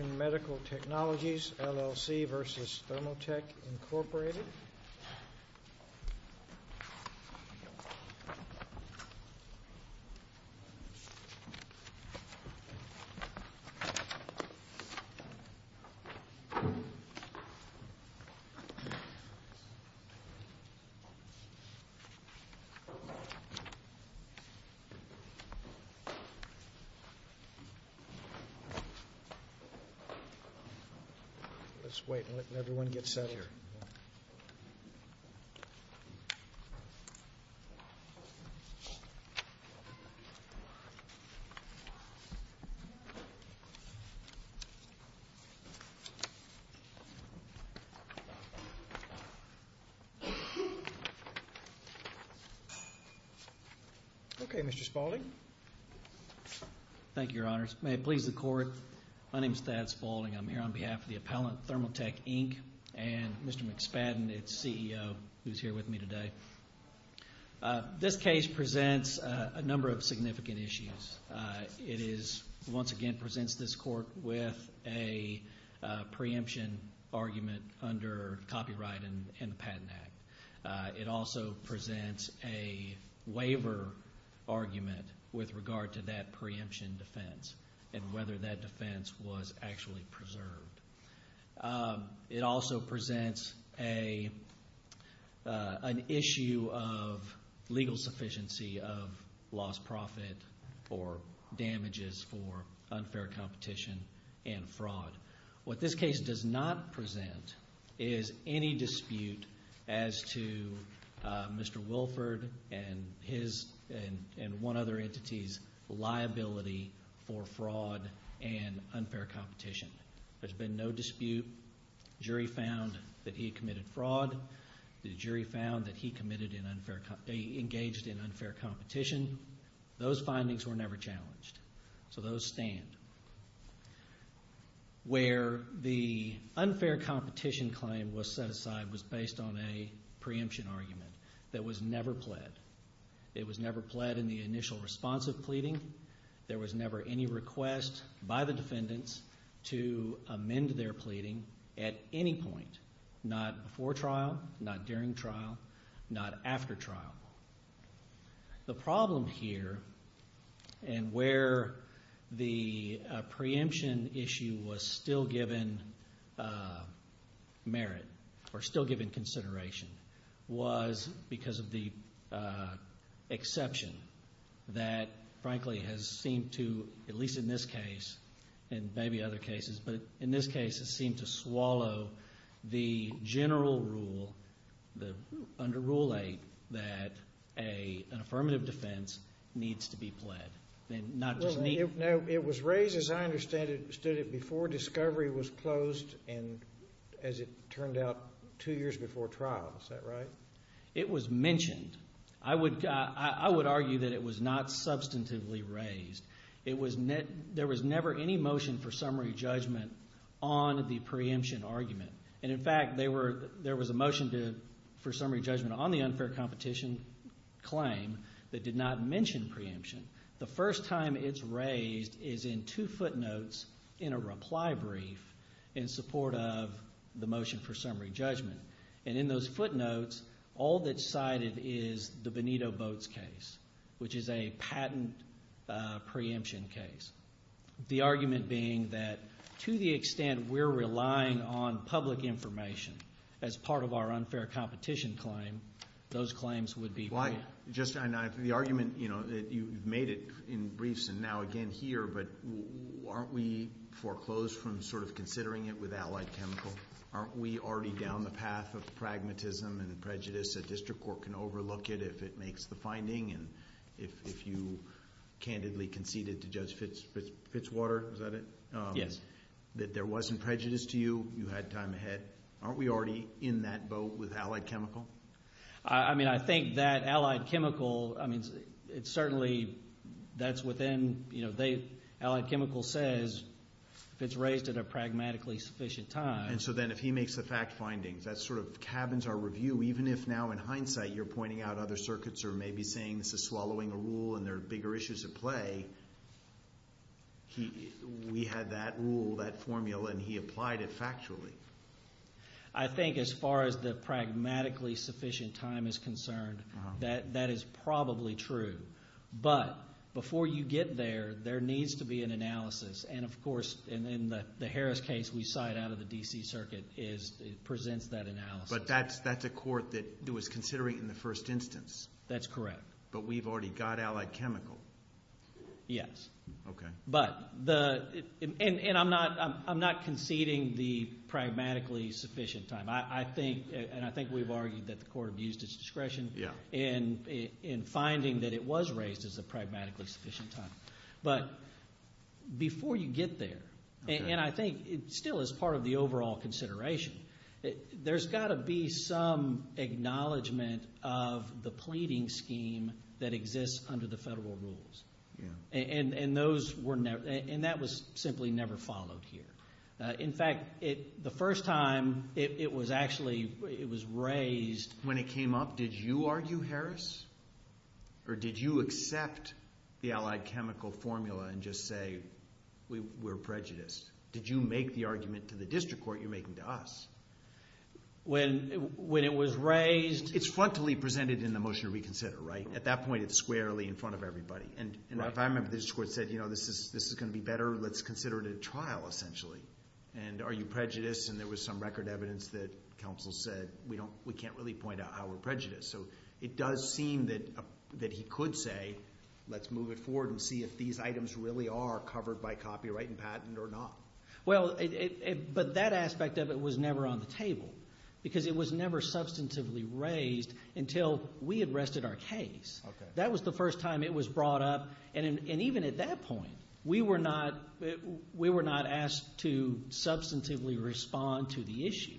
LLC v. Thermotek, Incorporated Let's wait and let everyone get set here. Okay, Mr. Spaulding. Thank you, Your Honors. May it please the Court, my name is Thad Spaulding. I'm here on behalf of the appellant Thermotek, Inc. and Mr. McSpadden, its CEO, who's here with me today. This case presents a number of significant issues. It is, once again, presents this Court with a preemption argument under copyright in the Patent Act. It also presents a waiver argument with regard to that preemption defense and whether that defense was actually preserved. It also presents an issue of legal sufficiency of lost profit or damages for unfair competition and fraud. What this case does not present is any dispute as to Mr. Wilford and one other entity's liability for fraud and unfair competition. There's been no dispute. The jury found that he committed fraud. The jury found that he engaged in unfair competition. Those findings were never challenged, so those stand. Where the unfair competition claim was set aside was based on a preemption argument that was never pled. It was never pled in the initial response of pleading. There was never any request by the defendants to amend their pleading at any point, not before trial, not during trial, not after trial. The problem here and where the preemption issue was still given merit or still given consideration was because of the exception that, frankly, has seemed to, at least in this case and maybe other cases, but in this case has seemed to swallow the general rule, the under Rule 8 that an affirmative defense needs to be pled. It was raised, as I understand it, before discovery was closed and, as it turned out, two years before trial. Is that right? It was mentioned. I would argue that it was not substantively raised. There was never any motion for summary judgment on the preemption argument. And, in fact, there was a motion for summary judgment on the unfair competition claim that did not mention preemption. The first time it's raised is in two footnotes in a reply brief in support of the motion for summary judgment. And in those footnotes, all that's cited is the Benito Boats case, which is a patent preemption case, the argument being that to the extent we're relying on public information as part of our unfair competition claim, those claims would be brought up. Just the argument that you've made it in briefs and now again here, but aren't we foreclosed from sort of considering it with Allied Chemical? Aren't we already down the path of pragmatism and prejudice? A district court can overlook it if it makes the finding, and if you candidly conceded to Judge Fitzwater, is that it? Yes. That there wasn't prejudice to you, you had time ahead. Aren't we already in that boat with Allied Chemical? I mean, I think that Allied Chemical, I mean, it certainly, that's within, you know, if it's raised at a pragmatically sufficient time. And so then if he makes the fact findings, that sort of cabins our review, even if now in hindsight you're pointing out other circuits are maybe saying this is swallowing a rule and there are bigger issues at play. We had that rule, that formula, and he applied it factually. I think as far as the pragmatically sufficient time is concerned, that is probably true. But before you get there, there needs to be an analysis. And, of course, in the Harris case, we saw it out of the D.C. circuit. It presents that analysis. But that's a court that was considering it in the first instance. That's correct. But we've already got Allied Chemical. Yes. Okay. But the ñ and I'm not conceding the pragmatically sufficient time. I think, and I think we've argued that the court abused its discretion in finding that it was raised as a pragmatically sufficient time. But before you get there, and I think it still is part of the overall consideration, there's got to be some acknowledgment of the pleading scheme that exists under the federal rules. Yeah. And those were ñ and that was simply never followed here. In fact, the first time it was actually ñ it was raised ñ and just say we're prejudiced. Did you make the argument to the district court you're making to us? When it was raised ñ It's frontally presented in the motion to reconsider, right? At that point, it's squarely in front of everybody. And if I remember, the district court said, you know, this is going to be better. Let's consider it a trial, essentially. And are you prejudiced? And there was some record evidence that counsel said we can't really point out how we're prejudiced. So it does seem that he could say let's move it forward and see if these items really are covered by copyright and patent or not. Well, but that aspect of it was never on the table because it was never substantively raised until we had rested our case. That was the first time it was brought up. And even at that point, we were not asked to substantively respond to the issue.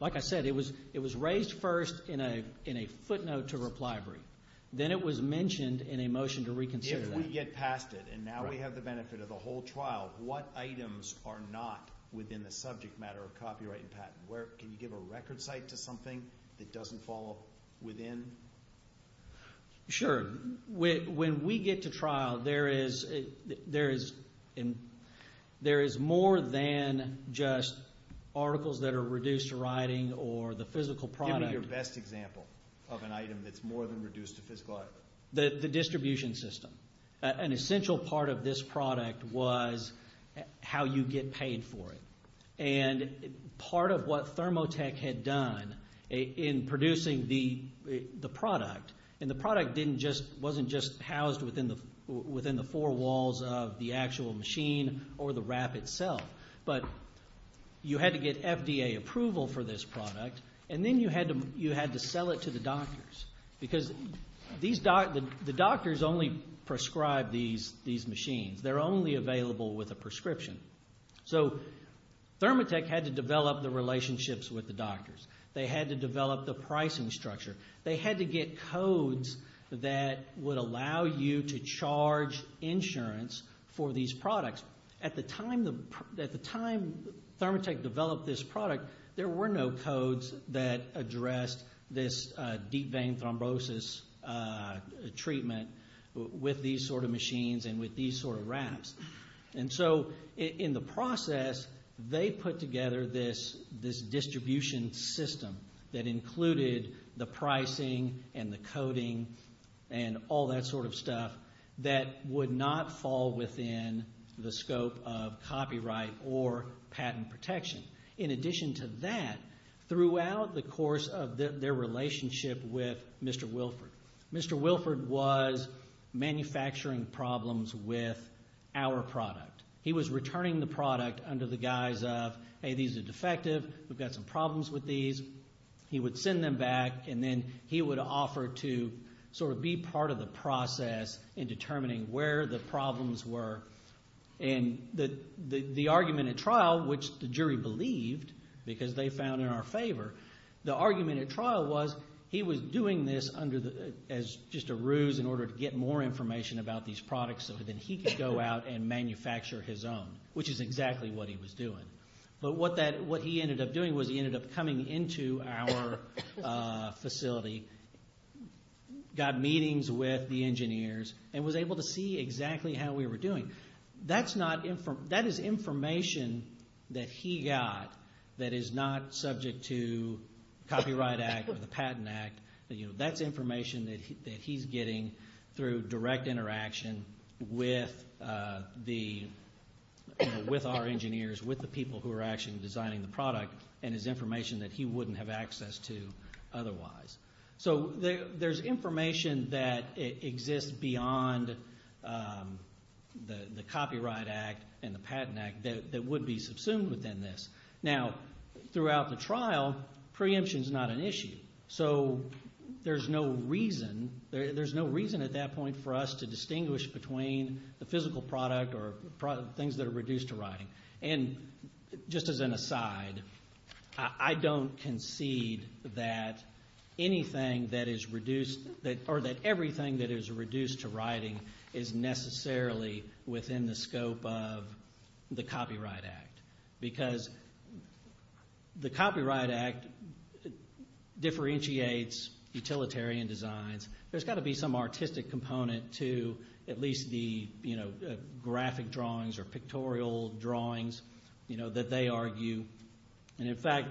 Like I said, it was raised first in a footnote to reply brief. Then it was mentioned in a motion to reconsider. If we get past it and now we have the benefit of the whole trial, what items are not within the subject matter of copyright and patent? Can you give a record cite to something that doesn't fall within? Sure. When we get to trial, there is more than just articles that are reduced to writing or the physical product. Give me your best example of an item that's more than reduced to physical item. The distribution system. An essential part of this product was how you get paid for it. Part of what Thermotech had done in producing the product, and the product wasn't just housed within the four walls of the actual machine or the wrap itself, but you had to get FDA approval for this product, and then you had to sell it to the doctors because the doctors only prescribe these machines. They're only available with a prescription. So Thermotech had to develop the relationships with the doctors. They had to develop the pricing structure. They had to get codes that would allow you to charge insurance for these products. At the time Thermotech developed this product, there were no codes that addressed this deep vein thrombosis treatment with these sort of machines and with these sort of wraps. And so in the process, they put together this distribution system that included the pricing and the coding and all that sort of stuff that would not fall within the scope of copyright or patent protection. In addition to that, throughout the course of their relationship with Mr. Wilford, Mr. Wilford was manufacturing problems with our product. He was returning the product under the guise of, hey, these are defective. We've got some problems with these. He would send them back, and then he would offer to sort of be part of the process in determining where the problems were. And the argument at trial, which the jury believed because they found in our favor, the argument at trial was he was doing this as just a ruse in order to get more information about these products so that then he could go out and manufacture his own, which is exactly what he was doing. But what he ended up doing was he ended up coming into our facility, got meetings with the engineers, and was able to see exactly how we were doing. That is information that he got that is not subject to Copyright Act or the Patent Act. That's information that he's getting through direct interaction with our engineers, with the people who are actually designing the product, and is information that he wouldn't have access to otherwise. So there's information that exists beyond the Copyright Act and the Patent Act that would be subsumed within this. Now, throughout the trial, preemption is not an issue. So there's no reason at that point for us to distinguish between the physical product or things that are reduced to writing. Just as an aside, I don't concede that anything that is reduced or that everything that is reduced to writing is necessarily within the scope of the Copyright Act because the Copyright Act differentiates utilitarian designs. There's got to be some artistic component to at least the graphic drawings or pictorial drawings that they argue. In fact,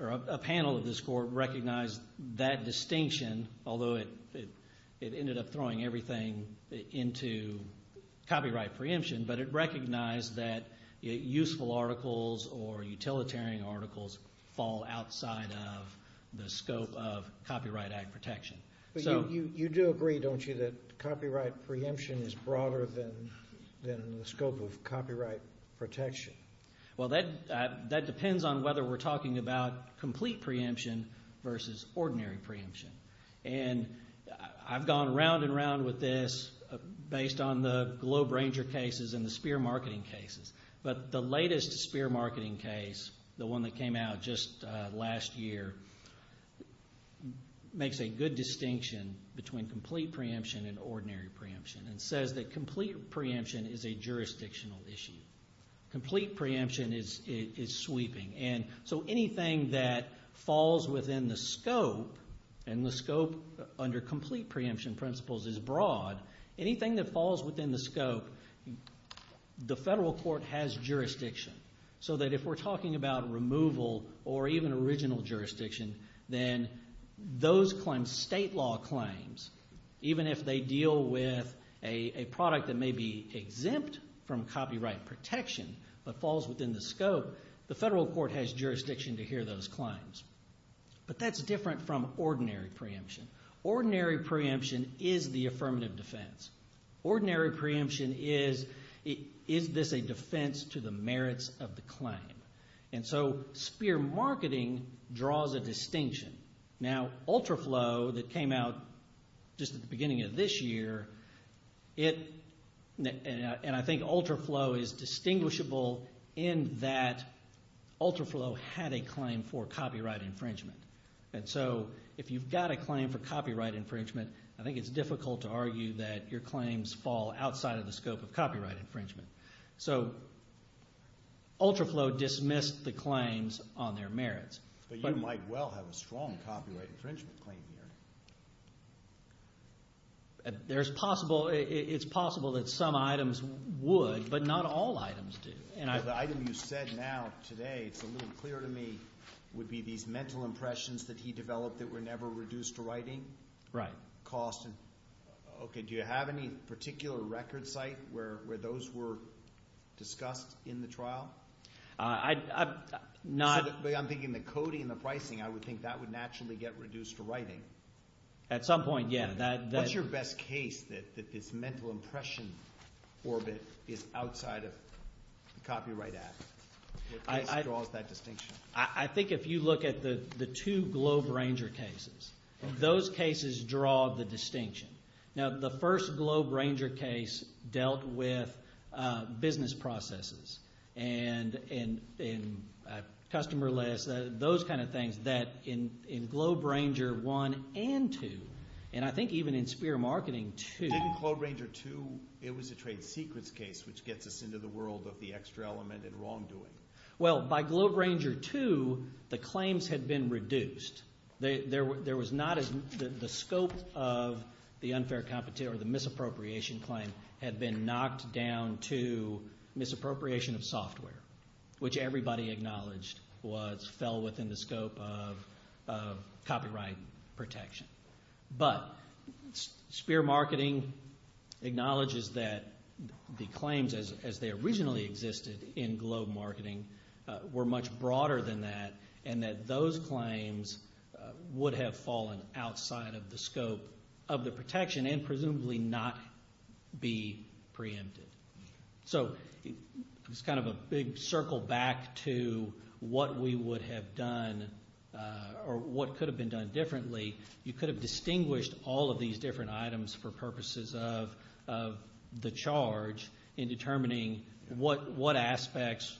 a panel of this court recognized that distinction, although it ended up throwing everything into copyright preemption, but it recognized that useful articles or utilitarian articles fall outside of the scope of Copyright Act protection. But you do agree, don't you, that copyright preemption is broader than the scope of copyright protection? Well, that depends on whether we're talking about complete preemption versus ordinary preemption. And I've gone around and around with this based on the Globe Ranger cases and the Spear marketing cases, but the latest Spear marketing case, the one that came out just last year, makes a good distinction between complete preemption and ordinary preemption and says that complete preemption is a jurisdictional issue. Complete preemption is sweeping. And so anything that falls within the scope, and the scope under complete preemption principles is broad, anything that falls within the scope, the federal court has jurisdiction. So that if we're talking about removal or even original jurisdiction, then those claims, state law claims, even if they deal with a product that may be exempt from copyright protection but falls within the scope, the federal court has jurisdiction to hear those claims. But that's different from ordinary preemption. Ordinary preemption is the affirmative defense. Ordinary preemption is, is this a defense to the merits of the claim? And so Spear marketing draws a distinction. Now, UltraFlow that came out just at the beginning of this year, and I think UltraFlow is distinguishable in that UltraFlow had a claim for copyright infringement. And so if you've got a claim for copyright infringement, I think it's difficult to argue that your claims fall outside of the scope of copyright infringement. So UltraFlow dismissed the claims on their merits. But you might well have a strong copyright infringement claim here. There's possible, it's possible that some items would, but not all items do. The item you said now today, it's a little clearer to me, would be these mental impressions that he developed that were never reduced to writing. Right. Cost. Okay, do you have any particular record site where those were discussed in the trial? I'm thinking the coding and the pricing, I would think that would naturally get reduced to writing. At some point, yeah. What's your best case that this mental impression orbit is outside of the copyright act? What case draws that distinction? I think if you look at the two Globe Ranger cases, those cases draw the distinction. Now, the first Globe Ranger case dealt with business processes and customer lists, those kind of things that in Globe Ranger 1 and 2, and I think even in Spear Marketing 2. Didn't Globe Ranger 2, it was a trade secrets case which gets us into the world of the extra element and wrongdoing. Well, by Globe Ranger 2, the claims had been reduced. There was not as, the scope of the unfair competition or the misappropriation claim had been knocked down to misappropriation of software, which everybody acknowledged fell within the scope of copyright protection. But Spear Marketing acknowledges that the claims as they originally existed in Globe Marketing were much broader than that and that those claims would have fallen outside of the scope of the protection and presumably not be preempted. So it's kind of a big circle back to what we would have done or what could have been done differently. You could have distinguished all of these different items for purposes of the charge in determining what aspects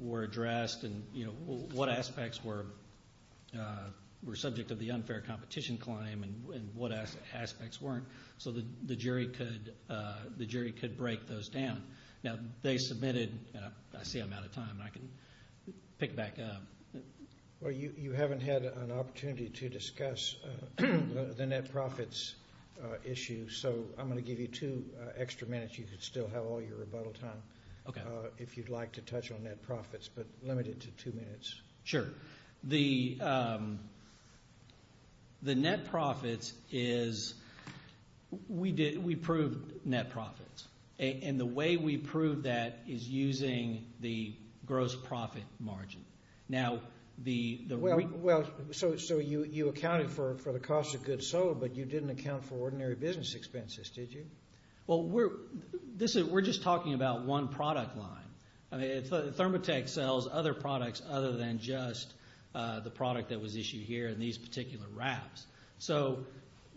were addressed and what aspects were subject to the unfair competition claim and what aspects weren't so the jury could break those down. Now, they submitted, and I see I'm out of time, and I can pick it back up. Well, you haven't had an opportunity to discuss the net profits issue, so I'm going to give you two extra minutes. You can still have all your rebuttal time if you'd like to touch on net profits, but limit it to two minutes. Sure. The net profits is we proved net profits, and the way we proved that is using the gross profit margin. Now, the— Well, so you accounted for the cost of goods sold, but you didn't account for ordinary business expenses, did you? Well, we're just talking about one product line. I mean, Thermotech sells other products other than just the product that was issued here in these particular wraps. So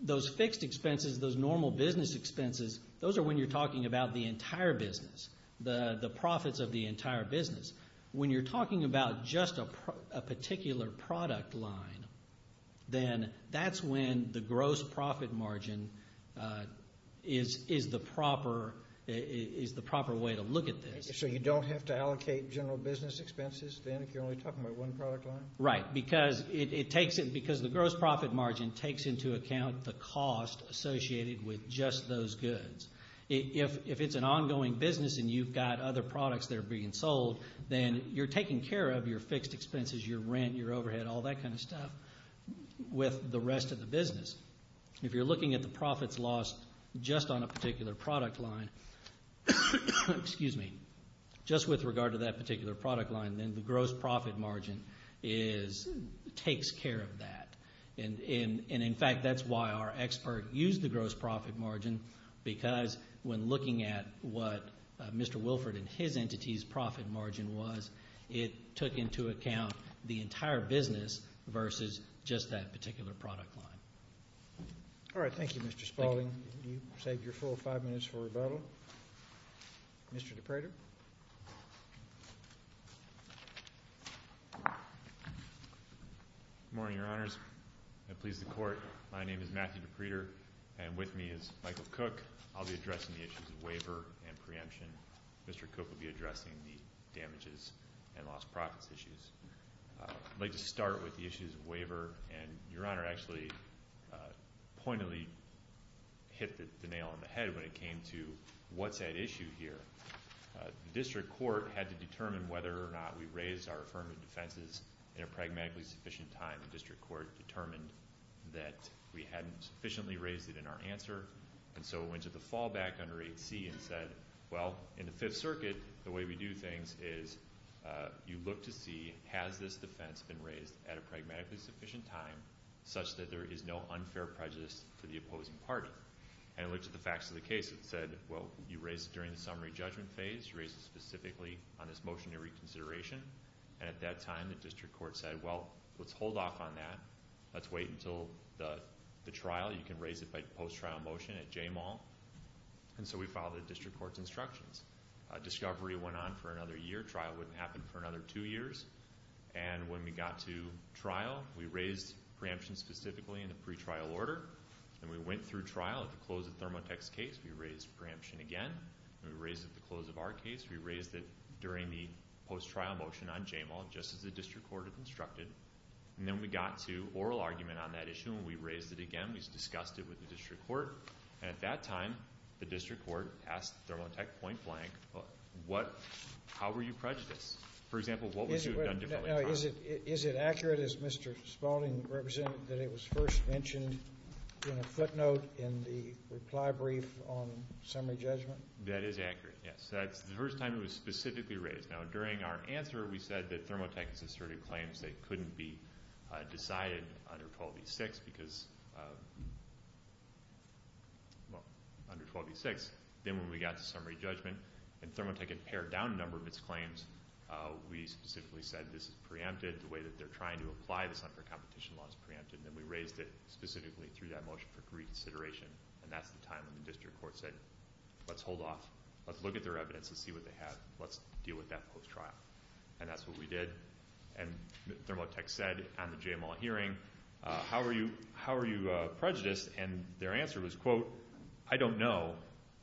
those fixed expenses, those normal business expenses, those are when you're talking about the entire business, the profits of the entire business. When you're talking about just a particular product line, then that's when the gross profit margin is the proper way to look at this. So you don't have to allocate general business expenses then if you're only talking about one product line? Right, because it takes it—because the gross profit margin takes into account the cost associated with just those goods. If it's an ongoing business and you've got other products that are being sold, then you're taking care of your fixed expenses, your rent, your overhead, all that kind of stuff with the rest of the business. If you're looking at the profits lost just on a particular product line, just with regard to that particular product line, then the gross profit margin takes care of that. And, in fact, that's why our expert used the gross profit margin, because when looking at what Mr. Wilford and his entity's profit margin was, it took into account the entire business versus just that particular product line. All right. Thank you, Mr. Spaulding. Thank you. You've saved your full five minutes for rebuttal. Mr. DePreeter. Good morning, Your Honors. I please the Court. My name is Matthew DePreeter, and with me is Michael Cook. I'll be addressing the issues of waiver and preemption. Mr. Cook will be addressing the damages and lost profits issues. I'd like to start with the issues of waiver, and Your Honor actually pointedly hit the nail on the head when it came to what's at issue here. The district court had to determine whether or not we raised our affirmative defenses in a pragmatically sufficient time. The district court determined that we hadn't sufficiently raised it in our answer, and so it went to the fallback under 8C and said, well, in the Fifth Circuit, the way we do things is you look to see has this defense been raised at a pragmatically sufficient time, such that there is no unfair prejudice to the opposing party. And it looked at the facts of the case and said, well, you raised it during the summary judgment phase. You raised it specifically on this motion to reconsideration. And at that time, the district court said, well, let's hold off on that. Let's wait until the trial. You can raise it by post-trial motion at J-Mall. And so we followed the district court's instructions. Discovery went on for another year. Trial wouldn't happen for another two years. And when we got to trial, we raised preemption specifically in the pretrial order. And we went through trial. At the close of Thermotex's case, we raised preemption again. And we raised it at the close of our case. We raised it during the post-trial motion on J-Mall, just as the district court had instructed. And then we got to oral argument on that issue. And we raised it again. We discussed it with the district court. And at that time, the district court asked Thermotex point blank, how were you prejudiced? For example, what would you have done differently in trial? Is it accurate, as Mr. Spalding represented, that it was first mentioned in a footnote in the reply brief on summary judgment? That is accurate, yes. That's the first time it was specifically raised. Now, during our answer, we said that Thermotex asserted claims that couldn't be decided under 12e6 because, well, under 12e6. Then when we got to summary judgment and Thermotex had pared down a number of its claims, we specifically said this is preempted. The way that they're trying to apply this unfair competition law is preempted. And we raised it specifically through that motion for reconsideration. And that's the time when the district court said, let's hold off. Let's look at their evidence and see what they have. Let's deal with that post-trial. And that's what we did. And Thermotex said on the JML hearing, how are you prejudiced? And their answer was, quote, I don't know.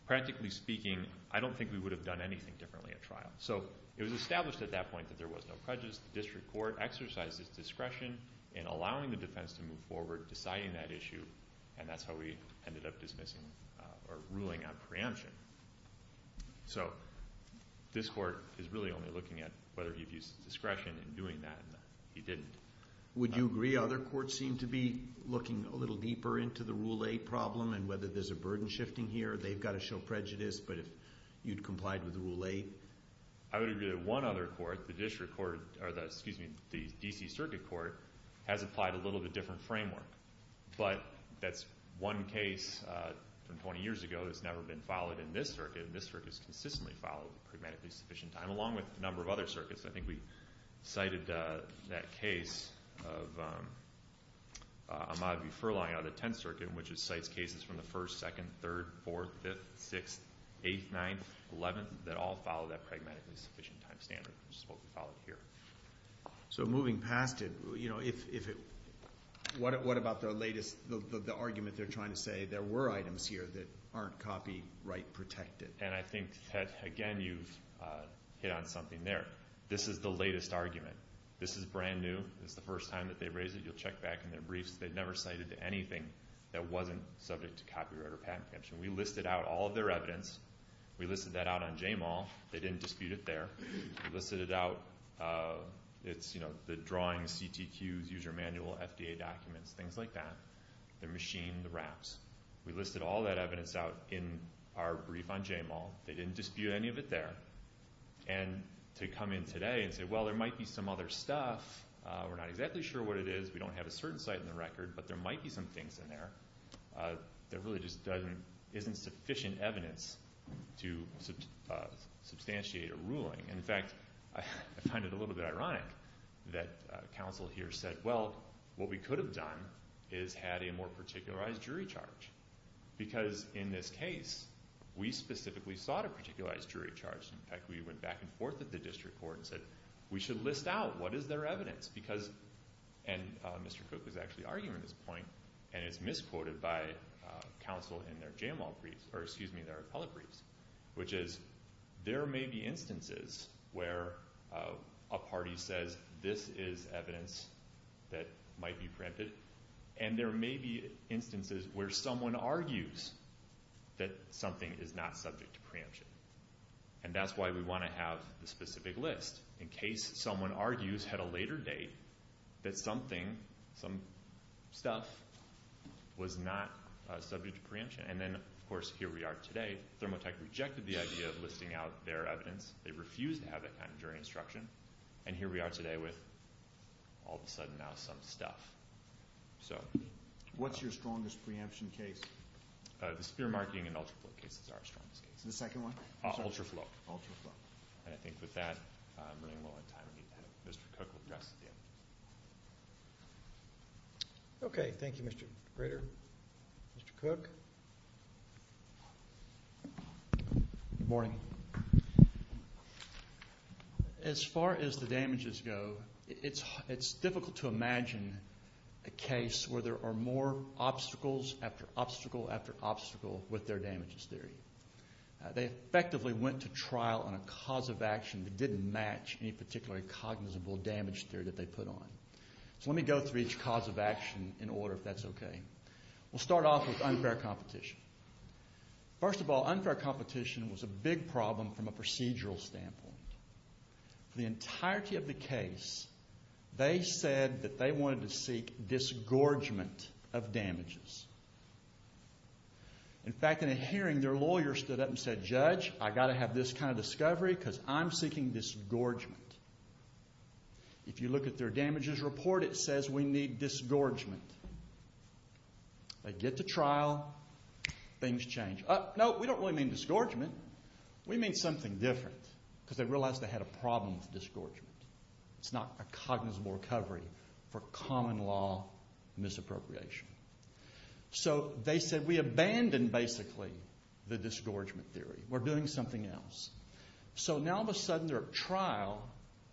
Practically speaking, I don't think we would have done anything differently at trial. So it was established at that point that there was no prejudice. The district court exercised its discretion in allowing the defense to move forward, deciding that issue, and that's how we ended up dismissing or ruling on preemption. So this court is really only looking at whether you've used discretion in doing that, and he didn't. Would you agree other courts seem to be looking a little deeper into the Rule 8 problem and whether there's a burden shifting here, they've got to show prejudice, but if you'd complied with Rule 8? I would agree that one other court, the district court, or the, excuse me, the D.C. Circuit Court, has applied a little bit different framework. But that's one case from 20 years ago that's never been followed in this circuit, and this circuit has consistently followed pragmatically sufficient time, along with a number of other circuits. I think we cited that case of Ahmaud V. Furlong out of the 10th Circuit, which cites cases from the 1st, 2nd, 3rd, 4th, 5th, 6th, 8th, 9th, 11th, that all follow that pragmatically sufficient time standard, which is what we followed here. So moving past it, what about the latest, the argument they're trying to say, there were items here that aren't copyright protected? And I think, Ted, again, you've hit on something there. This is the latest argument. This is brand new. This is the first time that they've raised it. You'll check back in their briefs. They've never cited anything that wasn't subject to copyright or patent protection. We listed out all of their evidence. We listed that out on JMAL. They didn't dispute it there. We listed it out. It's, you know, the drawings, CTQs, user manual, FDA documents, things like that. The machine, the wraps. We listed all that evidence out in our brief on JMAL. They didn't dispute any of it there. And to come in today and say, well, there might be some other stuff, we're not exactly sure what it is, we don't have a certain site in the record, but there might be some things in there, there really just isn't sufficient evidence to substantiate a ruling. And, in fact, I find it a little bit ironic that counsel here said, well, what we could have done is had a more particularized jury charge. Because in this case, we specifically sought a particularized jury charge. In fact, we went back and forth at the district court and said, we should list out what is their evidence. And Mr. Cook was actually arguing this point, and it's misquoted by counsel in their JMAL briefs, or excuse me, their appellate briefs, which is there may be instances where a party says, this is evidence that might be preempted, and there may be instances where someone argues that something is not subject to preemption. And that's why we want to have the specific list. In case someone argues at a later date that something, some stuff, was not subject to preemption. And then, of course, here we are today. Thermo Tech rejected the idea of listing out their evidence. They refused to have that kind of jury instruction. And here we are today with all of a sudden now some stuff. So. What's your strongest preemption case? The Spearmarketing and UltraFloat case is our strongest case. The second one? UltraFloat. UltraFloat. And I think with that, I'm running low on time. Mr. Cook will address the damages. Okay. Thank you, Mr. Grader. Mr. Cook? Good morning. As far as the damages go, it's difficult to imagine a case where there are more obstacles after obstacle after obstacle with their damages theory. They effectively went to trial on a cause of action that didn't match any particular cognizable damage theory that they put on. So let me go through each cause of action in order, if that's okay. We'll start off with unfair competition. First of all, unfair competition was a big problem from a procedural standpoint. For the entirety of the case, they said that they wanted to seek disgorgement of damages. In fact, in a hearing, their lawyer stood up and said, Judge, I've got to have this kind of discovery because I'm seeking disgorgement. If you look at their damages report, it says we need disgorgement. They get to trial. Things change. Oh, no, we don't really mean disgorgement. We mean something different because they realized they had a problem with disgorgement. It's not a cognizable recovery for common law misappropriation. So they said, we abandoned, basically, the disgorgement theory. We're doing something else. So now all of a sudden they're at trial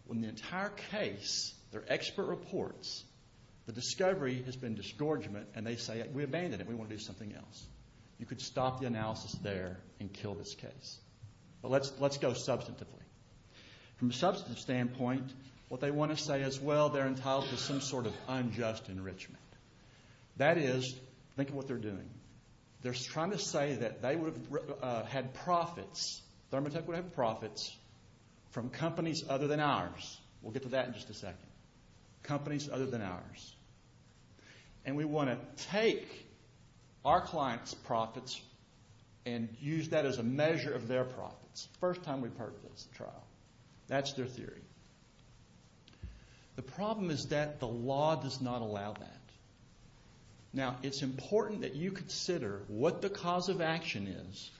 when the entire case, their expert reports, the discovery has been disgorgement, and they say, we abandoned it. We want to do something else. You could stop the analysis there and kill this case. But let's go substantively. From a substantive standpoint, what they want to say is, well, they're entitled to some sort of unjust enrichment. That is, think of what they're doing. They're trying to say that they would have had profits, Thermotech would have had profits from companies other than ours. We'll get to that in just a second. Companies other than ours. And we want to take our clients' profits and use that as a measure of their profits. First time we've heard this at trial. That's their theory. The problem is that the law does not allow that. Now, it's important that you consider what the cause of action is,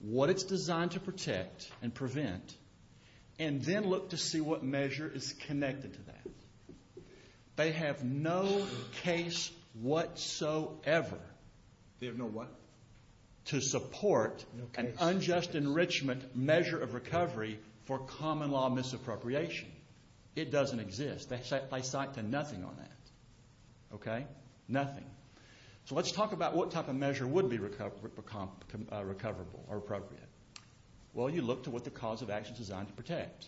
what it's designed to protect and prevent, and then look to see what measure is connected to that. They have no case whatsoever. They have no what? To support an unjust enrichment measure of recovery for common law misappropriation. It doesn't exist. They cite to nothing on that. Okay? Nothing. So let's talk about what type of measure would be recoverable or appropriate. Well, you look to what the cause of action is designed to protect.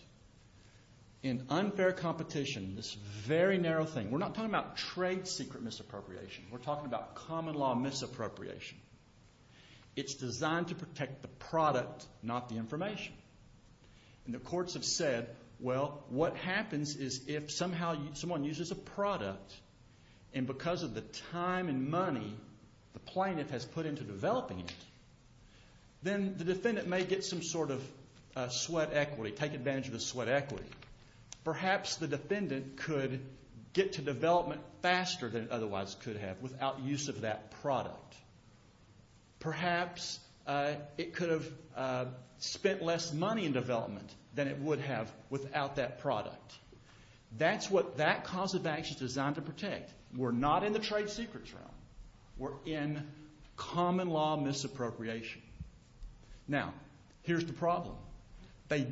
In unfair competition, this very narrow thing, we're not talking about trade secret misappropriation. We're talking about common law misappropriation. It's designed to protect the product, not the information. And the courts have said, well, what happens is if somehow someone uses a product and because of the time and money the plaintiff has put into developing it, then the defendant may get some sort of sweat equity, take advantage of the sweat equity. Perhaps the defendant could get to development faster than it otherwise could have without use of that product. Perhaps it could have spent less money in development than it would have without that product. That's what that cause of action is designed to protect. We're not in the trade secrets realm. We're in common law misappropriation. Now, here's the problem. They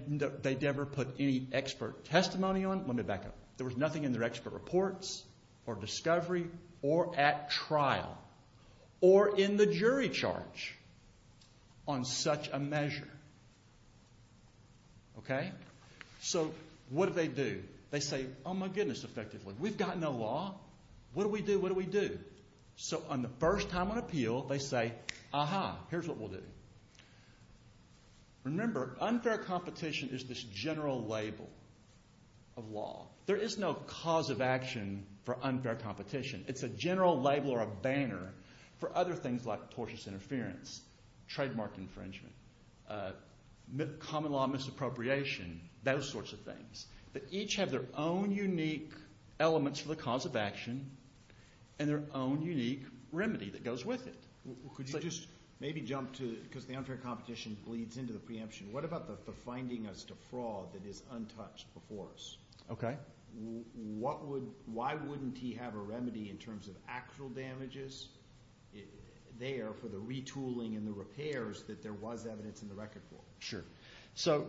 never put any expert testimony on. Let me back up. There was nothing in their expert reports or discovery or at trial or in the jury charge on such a measure. So what do they do? They say, oh, my goodness, effectively, we've got no law. What do we do? What do we do? So on the first time on appeal, they say, aha, here's what we'll do. Remember, unfair competition is this general label of law. There is no cause of action for unfair competition. It's a general label or a banner for other things like tortious interference, trademark infringement, common law misappropriation, those sorts of things that each have their own unique elements for the cause of action and their own unique remedy that goes with it. Could you just maybe jump to because the unfair competition bleeds into the preemption. What about the finding as to fraud that is untouched before us? Okay. Why wouldn't he have a remedy in terms of actual damages there for the retooling and the repairs that there was evidence in the record for? Sure. So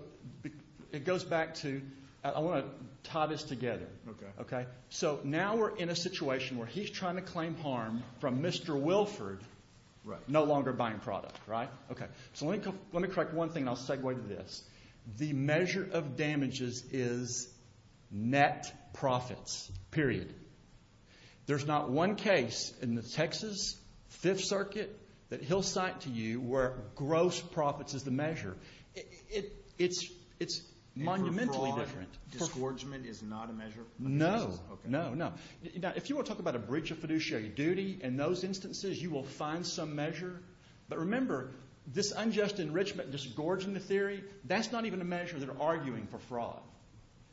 it goes back to I want to tie this together. Okay. So now we're in a situation where he's trying to claim harm from Mr. Wilford no longer buying product, right? Okay. So let me correct one thing and I'll segue to this. The measure of damages is net profits, period. There's not one case in the Texas Fifth Circuit that he'll cite to you where gross profits is the measure. It's monumentally different. Disgorgement is not a measure? No. No, no. Now, if you want to talk about a breach of fiduciary duty in those instances, you will find some measure. But remember, this unjust enrichment, disgorging the theory, that's not even a measure they're arguing for fraud.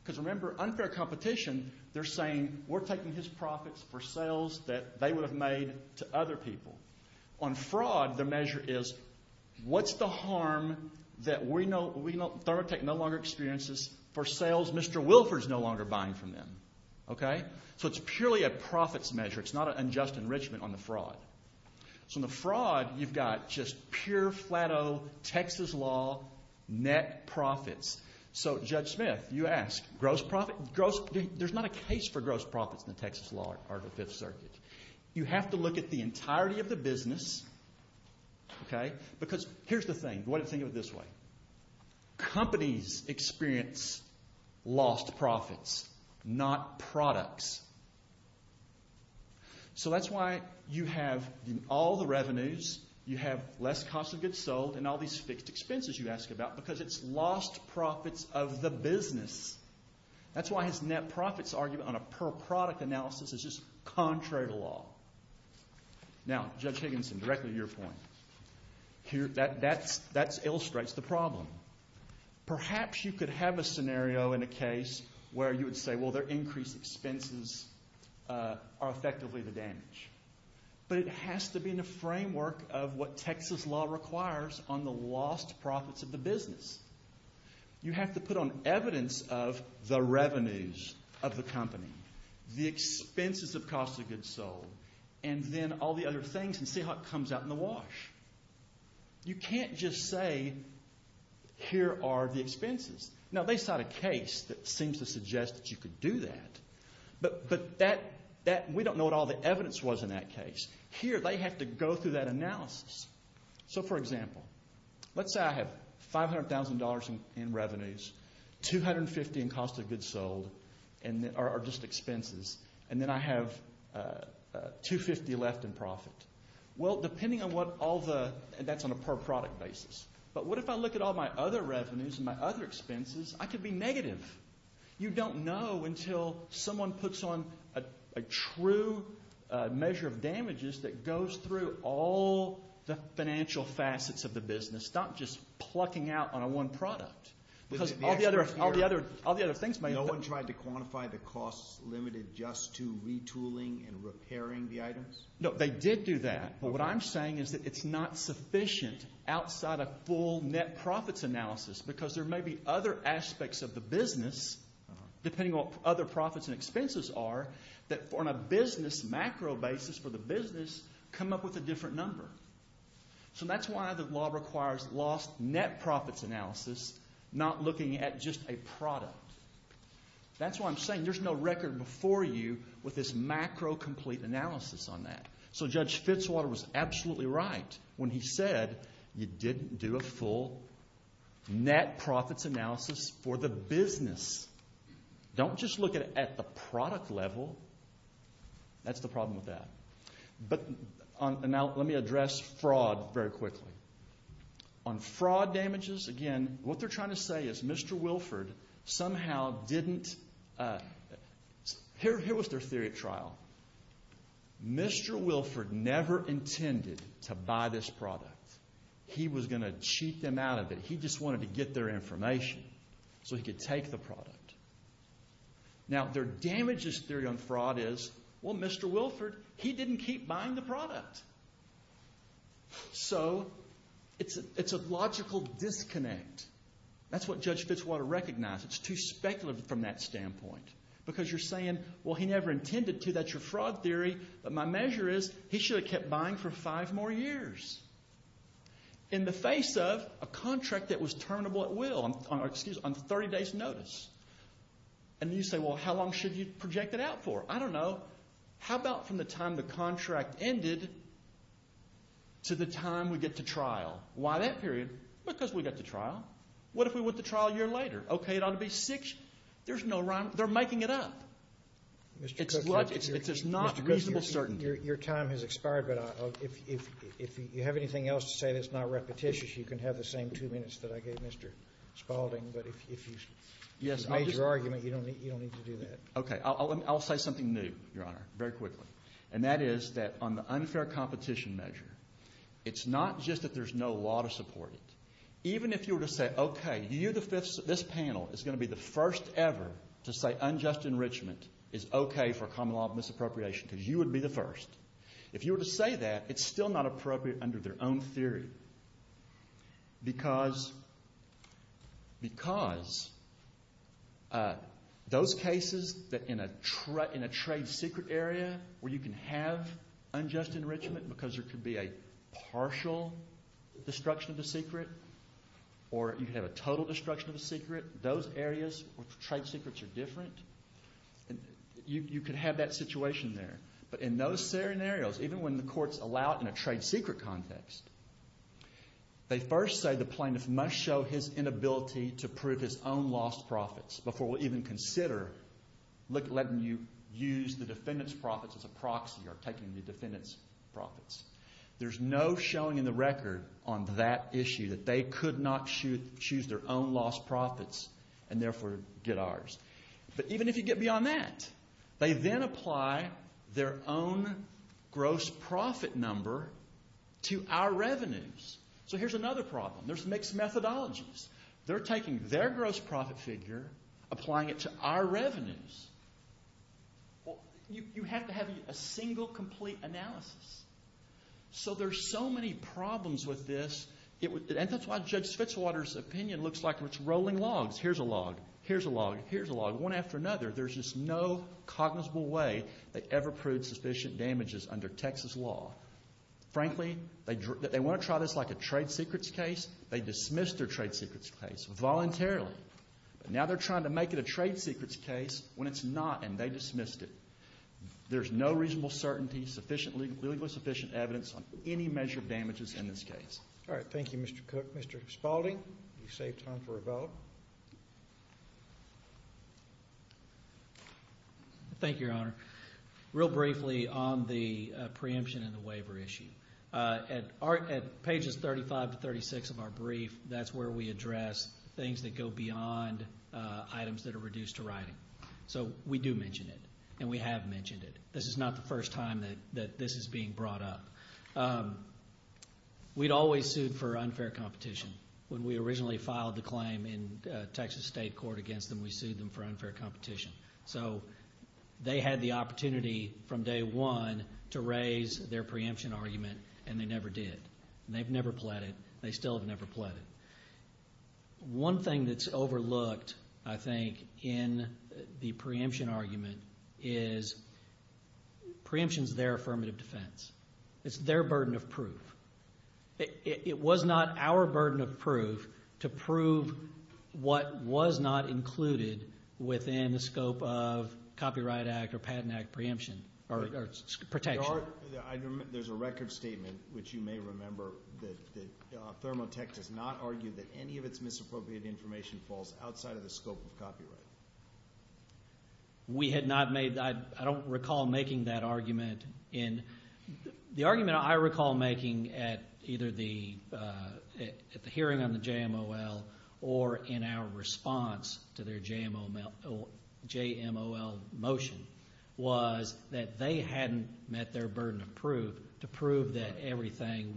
Because remember, unfair competition, they're saying we're taking his profits for sales that they would have made to other people. On fraud, the measure is what's the harm that ThermoTech no longer experiences for sales Mr. Wilford is no longer buying from them. Okay? So it's purely a profits measure. It's not an unjust enrichment on the fraud. So on the fraud, you've got just pure, flat-O, Texas law, net profits. So, Judge Smith, you ask, gross profit? There's not a case for gross profits in the Texas law or the Fifth Circuit. You have to look at the entirety of the business, okay? Because here's the thing. Think of it this way. Companies experience lost profits, not products. So that's why you have all the revenues, you have less cost of goods sold, and all these fixed expenses you ask about, because it's lost profits of the business. That's why his net profits argument on a per-product analysis is just contrary to law. Now, Judge Higginson, directly to your point, that illustrates the problem. Perhaps you could have a scenario in a case where you would say, well, their increased expenses are effectively the damage. But it has to be in a framework of what Texas law requires on the lost profits of the business. You have to put on evidence of the revenues of the company, the expenses of cost of goods sold, and then all the other things and see how it comes out in the wash. You can't just say, here are the expenses. Now, they cite a case that seems to suggest that you could do that, but we don't know what all the evidence was in that case. Here, they have to go through that analysis. So, for example, let's say I have $500,000 in revenues, $250,000 in cost of goods sold, or just expenses, and then I have $250,000 left in profit. Well, depending on what all the – and that's on a per-product basis. But what if I look at all my other revenues and my other expenses? I could be negative. You don't know until someone puts on a true measure of damages that goes through all the financial facets of the business, not just plucking out on a one product. Because all the other things may – No one tried to quantify the costs limited just to retooling and repairing the items? No, they did do that. But what I'm saying is that it's not sufficient outside a full net profits analysis because there may be other aspects of the business, depending on what other profits and expenses are, that on a business macro basis for the business, come up with a different number. So that's why the law requires lost net profits analysis, not looking at just a product. That's why I'm saying there's no record before you with this macro complete analysis on that. So Judge Fitzwater was absolutely right when he said you didn't do a full net profits analysis for the business. Don't just look at it at the product level. That's the problem with that. Now let me address fraud very quickly. On fraud damages, again, what they're trying to say is Mr. Wilford somehow didn't – Here was their theory of trial. Mr. Wilford never intended to buy this product. He was going to cheat them out of it. He just wanted to get their information so he could take the product. Now their damages theory on fraud is, well, Mr. Wilford, he didn't keep buying the product. So it's a logical disconnect. That's what Judge Fitzwater recognized. It's too speculative from that standpoint because you're saying, well, he never intended to. That's your fraud theory. But my measure is he should have kept buying for five more years in the face of a contract that was terminable at will on 30 days' notice. And you say, well, how long should you project it out for? I don't know. How about from the time the contract ended to the time we get to trial? Why that period? Because we get to trial. What if we went to trial a year later? Okay, it ought to be six. There's no rhyme. They're making it up. It's not reasonable certainty. Your time has expired, but if you have anything else to say that's not repetitious, you can have the same two minutes that I gave Mr. Spaulding. But if you made your argument, you don't need to do that. Okay, I'll say something new, Your Honor, very quickly, and that is that on the unfair competition measure, it's not just that there's no law to support it. Even if you were to say, okay, this panel is going to be the first ever to say unjust enrichment is okay for a common law of misappropriation because you would be the first. If you were to say that, it's still not appropriate under their own theory because those cases that in a trade secret area where you can have unjust enrichment because there could be a partial destruction of the secret or you could have a total destruction of the secret, those areas where the trade secrets are different, you could have that situation there. But in those scenarios, even when the courts allow it in a trade secret context, they first say the plaintiff must show his inability to prove his own lost profits before we'll even consider letting you use the defendant's profits as a proxy or taking the defendant's profits. There's no showing in the record on that issue that they could not choose their own lost profits and therefore get ours. But even if you get beyond that, they then apply their own gross profit number to our revenues. So here's another problem. There's mixed methodologies. They're taking their gross profit figure, applying it to our revenues. You have to have a single complete analysis. So there's so many problems with this. And that's why Judge Spitzwater's opinion looks like it's rolling logs. Here's a log. Here's a log. Here's a log. One after another, there's just no cognizable way they ever proved sufficient damages under Texas law. Frankly, they want to try this like a trade secrets case. They dismissed their trade secrets case voluntarily. But now they're trying to make it a trade secrets case when it's not, and they dismissed it. There's no reasonable certainty, legally sufficient evidence on any measure of damages in this case. All right. Thank you, Mr. Cook. Mr. Spaulding, you've saved time for a vote. Thank you, Your Honor. Real briefly on the preemption and the waiver issue. At pages 35 to 36 of our brief, that's where we address things that go beyond items that are reduced to writing. So we do mention it, and we have mentioned it. This is not the first time that this is being brought up. We'd always sued for unfair competition. When we originally filed the claim in Texas state court against them, we sued them for unfair competition. So they had the opportunity from day one to raise their preemption argument, and they never did. They've never pleaded. They still have never pleaded. One thing that's overlooked, I think, in the preemption argument is preemption is their affirmative defense. It's their burden of proof. It was not our burden of proof to prove what was not included within the scope of Copyright Act or Patent Act preemption or protection. There's a record statement, which you may remember, that Thermo Tech does not argue that any of its misappropriated information falls outside of the scope of copyright. We had not made that. I don't recall making that argument. The argument I recall making at either the hearing on the JMOL or in our response to their JMOL motion was that they hadn't met their burden of proof to prove that everything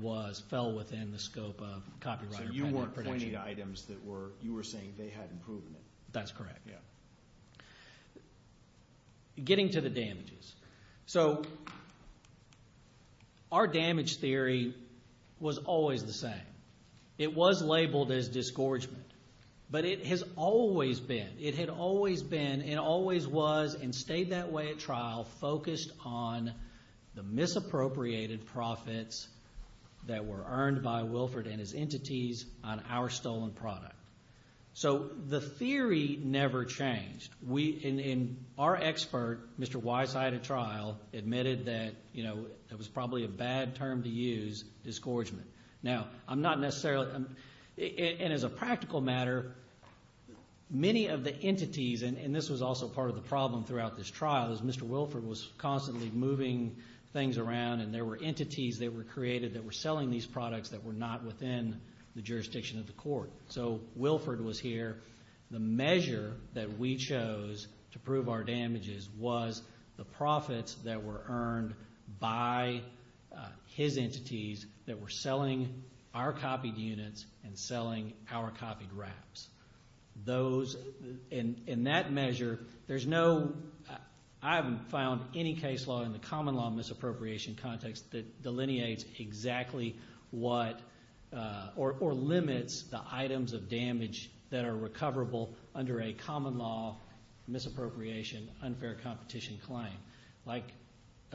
fell within the scope of copyright or patent or protection. So you weren't pointing to items that you were saying they hadn't proven it. That's correct. Getting to the damages. So our damage theory was always the same. It was labeled as disgorgement, but it has always been. It had always been and always was and stayed that way at trial, focused on the misappropriated profits that were earned by Wilford and his entities on our stolen product. So the theory never changed. In our expert, Mr. Wise, I had a trial, admitted that it was probably a bad term to use, disgorgement. Now, I'm not necessarily, and as a practical matter, many of the entities, and this was also part of the problem throughout this trial is Mr. Wilford was constantly moving things around and there were entities that were created that were selling these products that were not within the jurisdiction of the court. So Wilford was here. The measure that we chose to prove our damages was the profits that were earned by his entities that were selling our copied units and selling our copied wraps. Those, in that measure, there's no, I haven't found any case law in the common law misappropriation context that delineates exactly what, or limits the items of damage that are recoverable under a common law misappropriation unfair competition claim. Like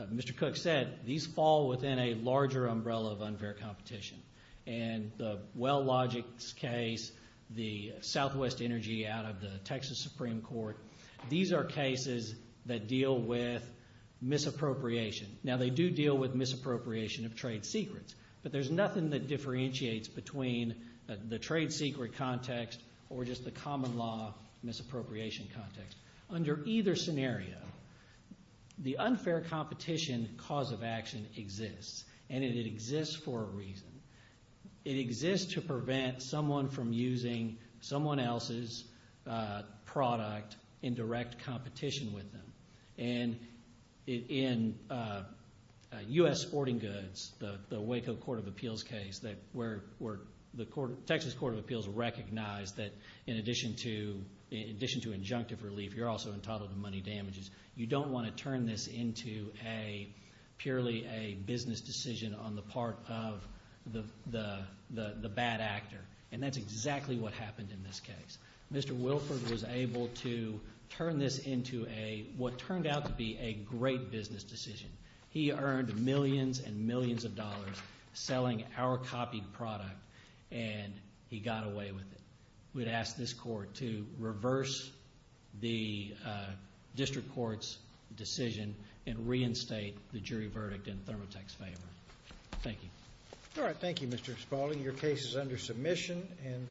Mr. Cook said, these fall within a larger umbrella of unfair competition. And the Wellogics case, the Southwest Energy out of the Texas Supreme Court, these are cases that deal with misappropriation. Now, they do deal with misappropriation of trade secrets, but there's nothing that differentiates between the trade secret context or just the common law misappropriation context. Under either scenario, the unfair competition cause of action exists, and it exists for a reason. It exists to prevent someone from using someone else's product in direct competition with them. And in U.S. Sporting Goods, the Waco Court of Appeals case, where the Texas Court of Appeals recognized that in addition to injunctive relief, you're also entitled to money damages, you don't want to turn this into purely a business decision on the part of the bad actor. And that's exactly what happened in this case. Mr. Wilford was able to turn this into what turned out to be a great business decision. He earned millions and millions of dollars selling our copied product, and he got away with it. We'd ask this court to reverse the district court's decision and reinstate the jury verdict in Thermotech's favor. Thank you. All right. Thank you, Mr. Spaulding. Your case is under submission.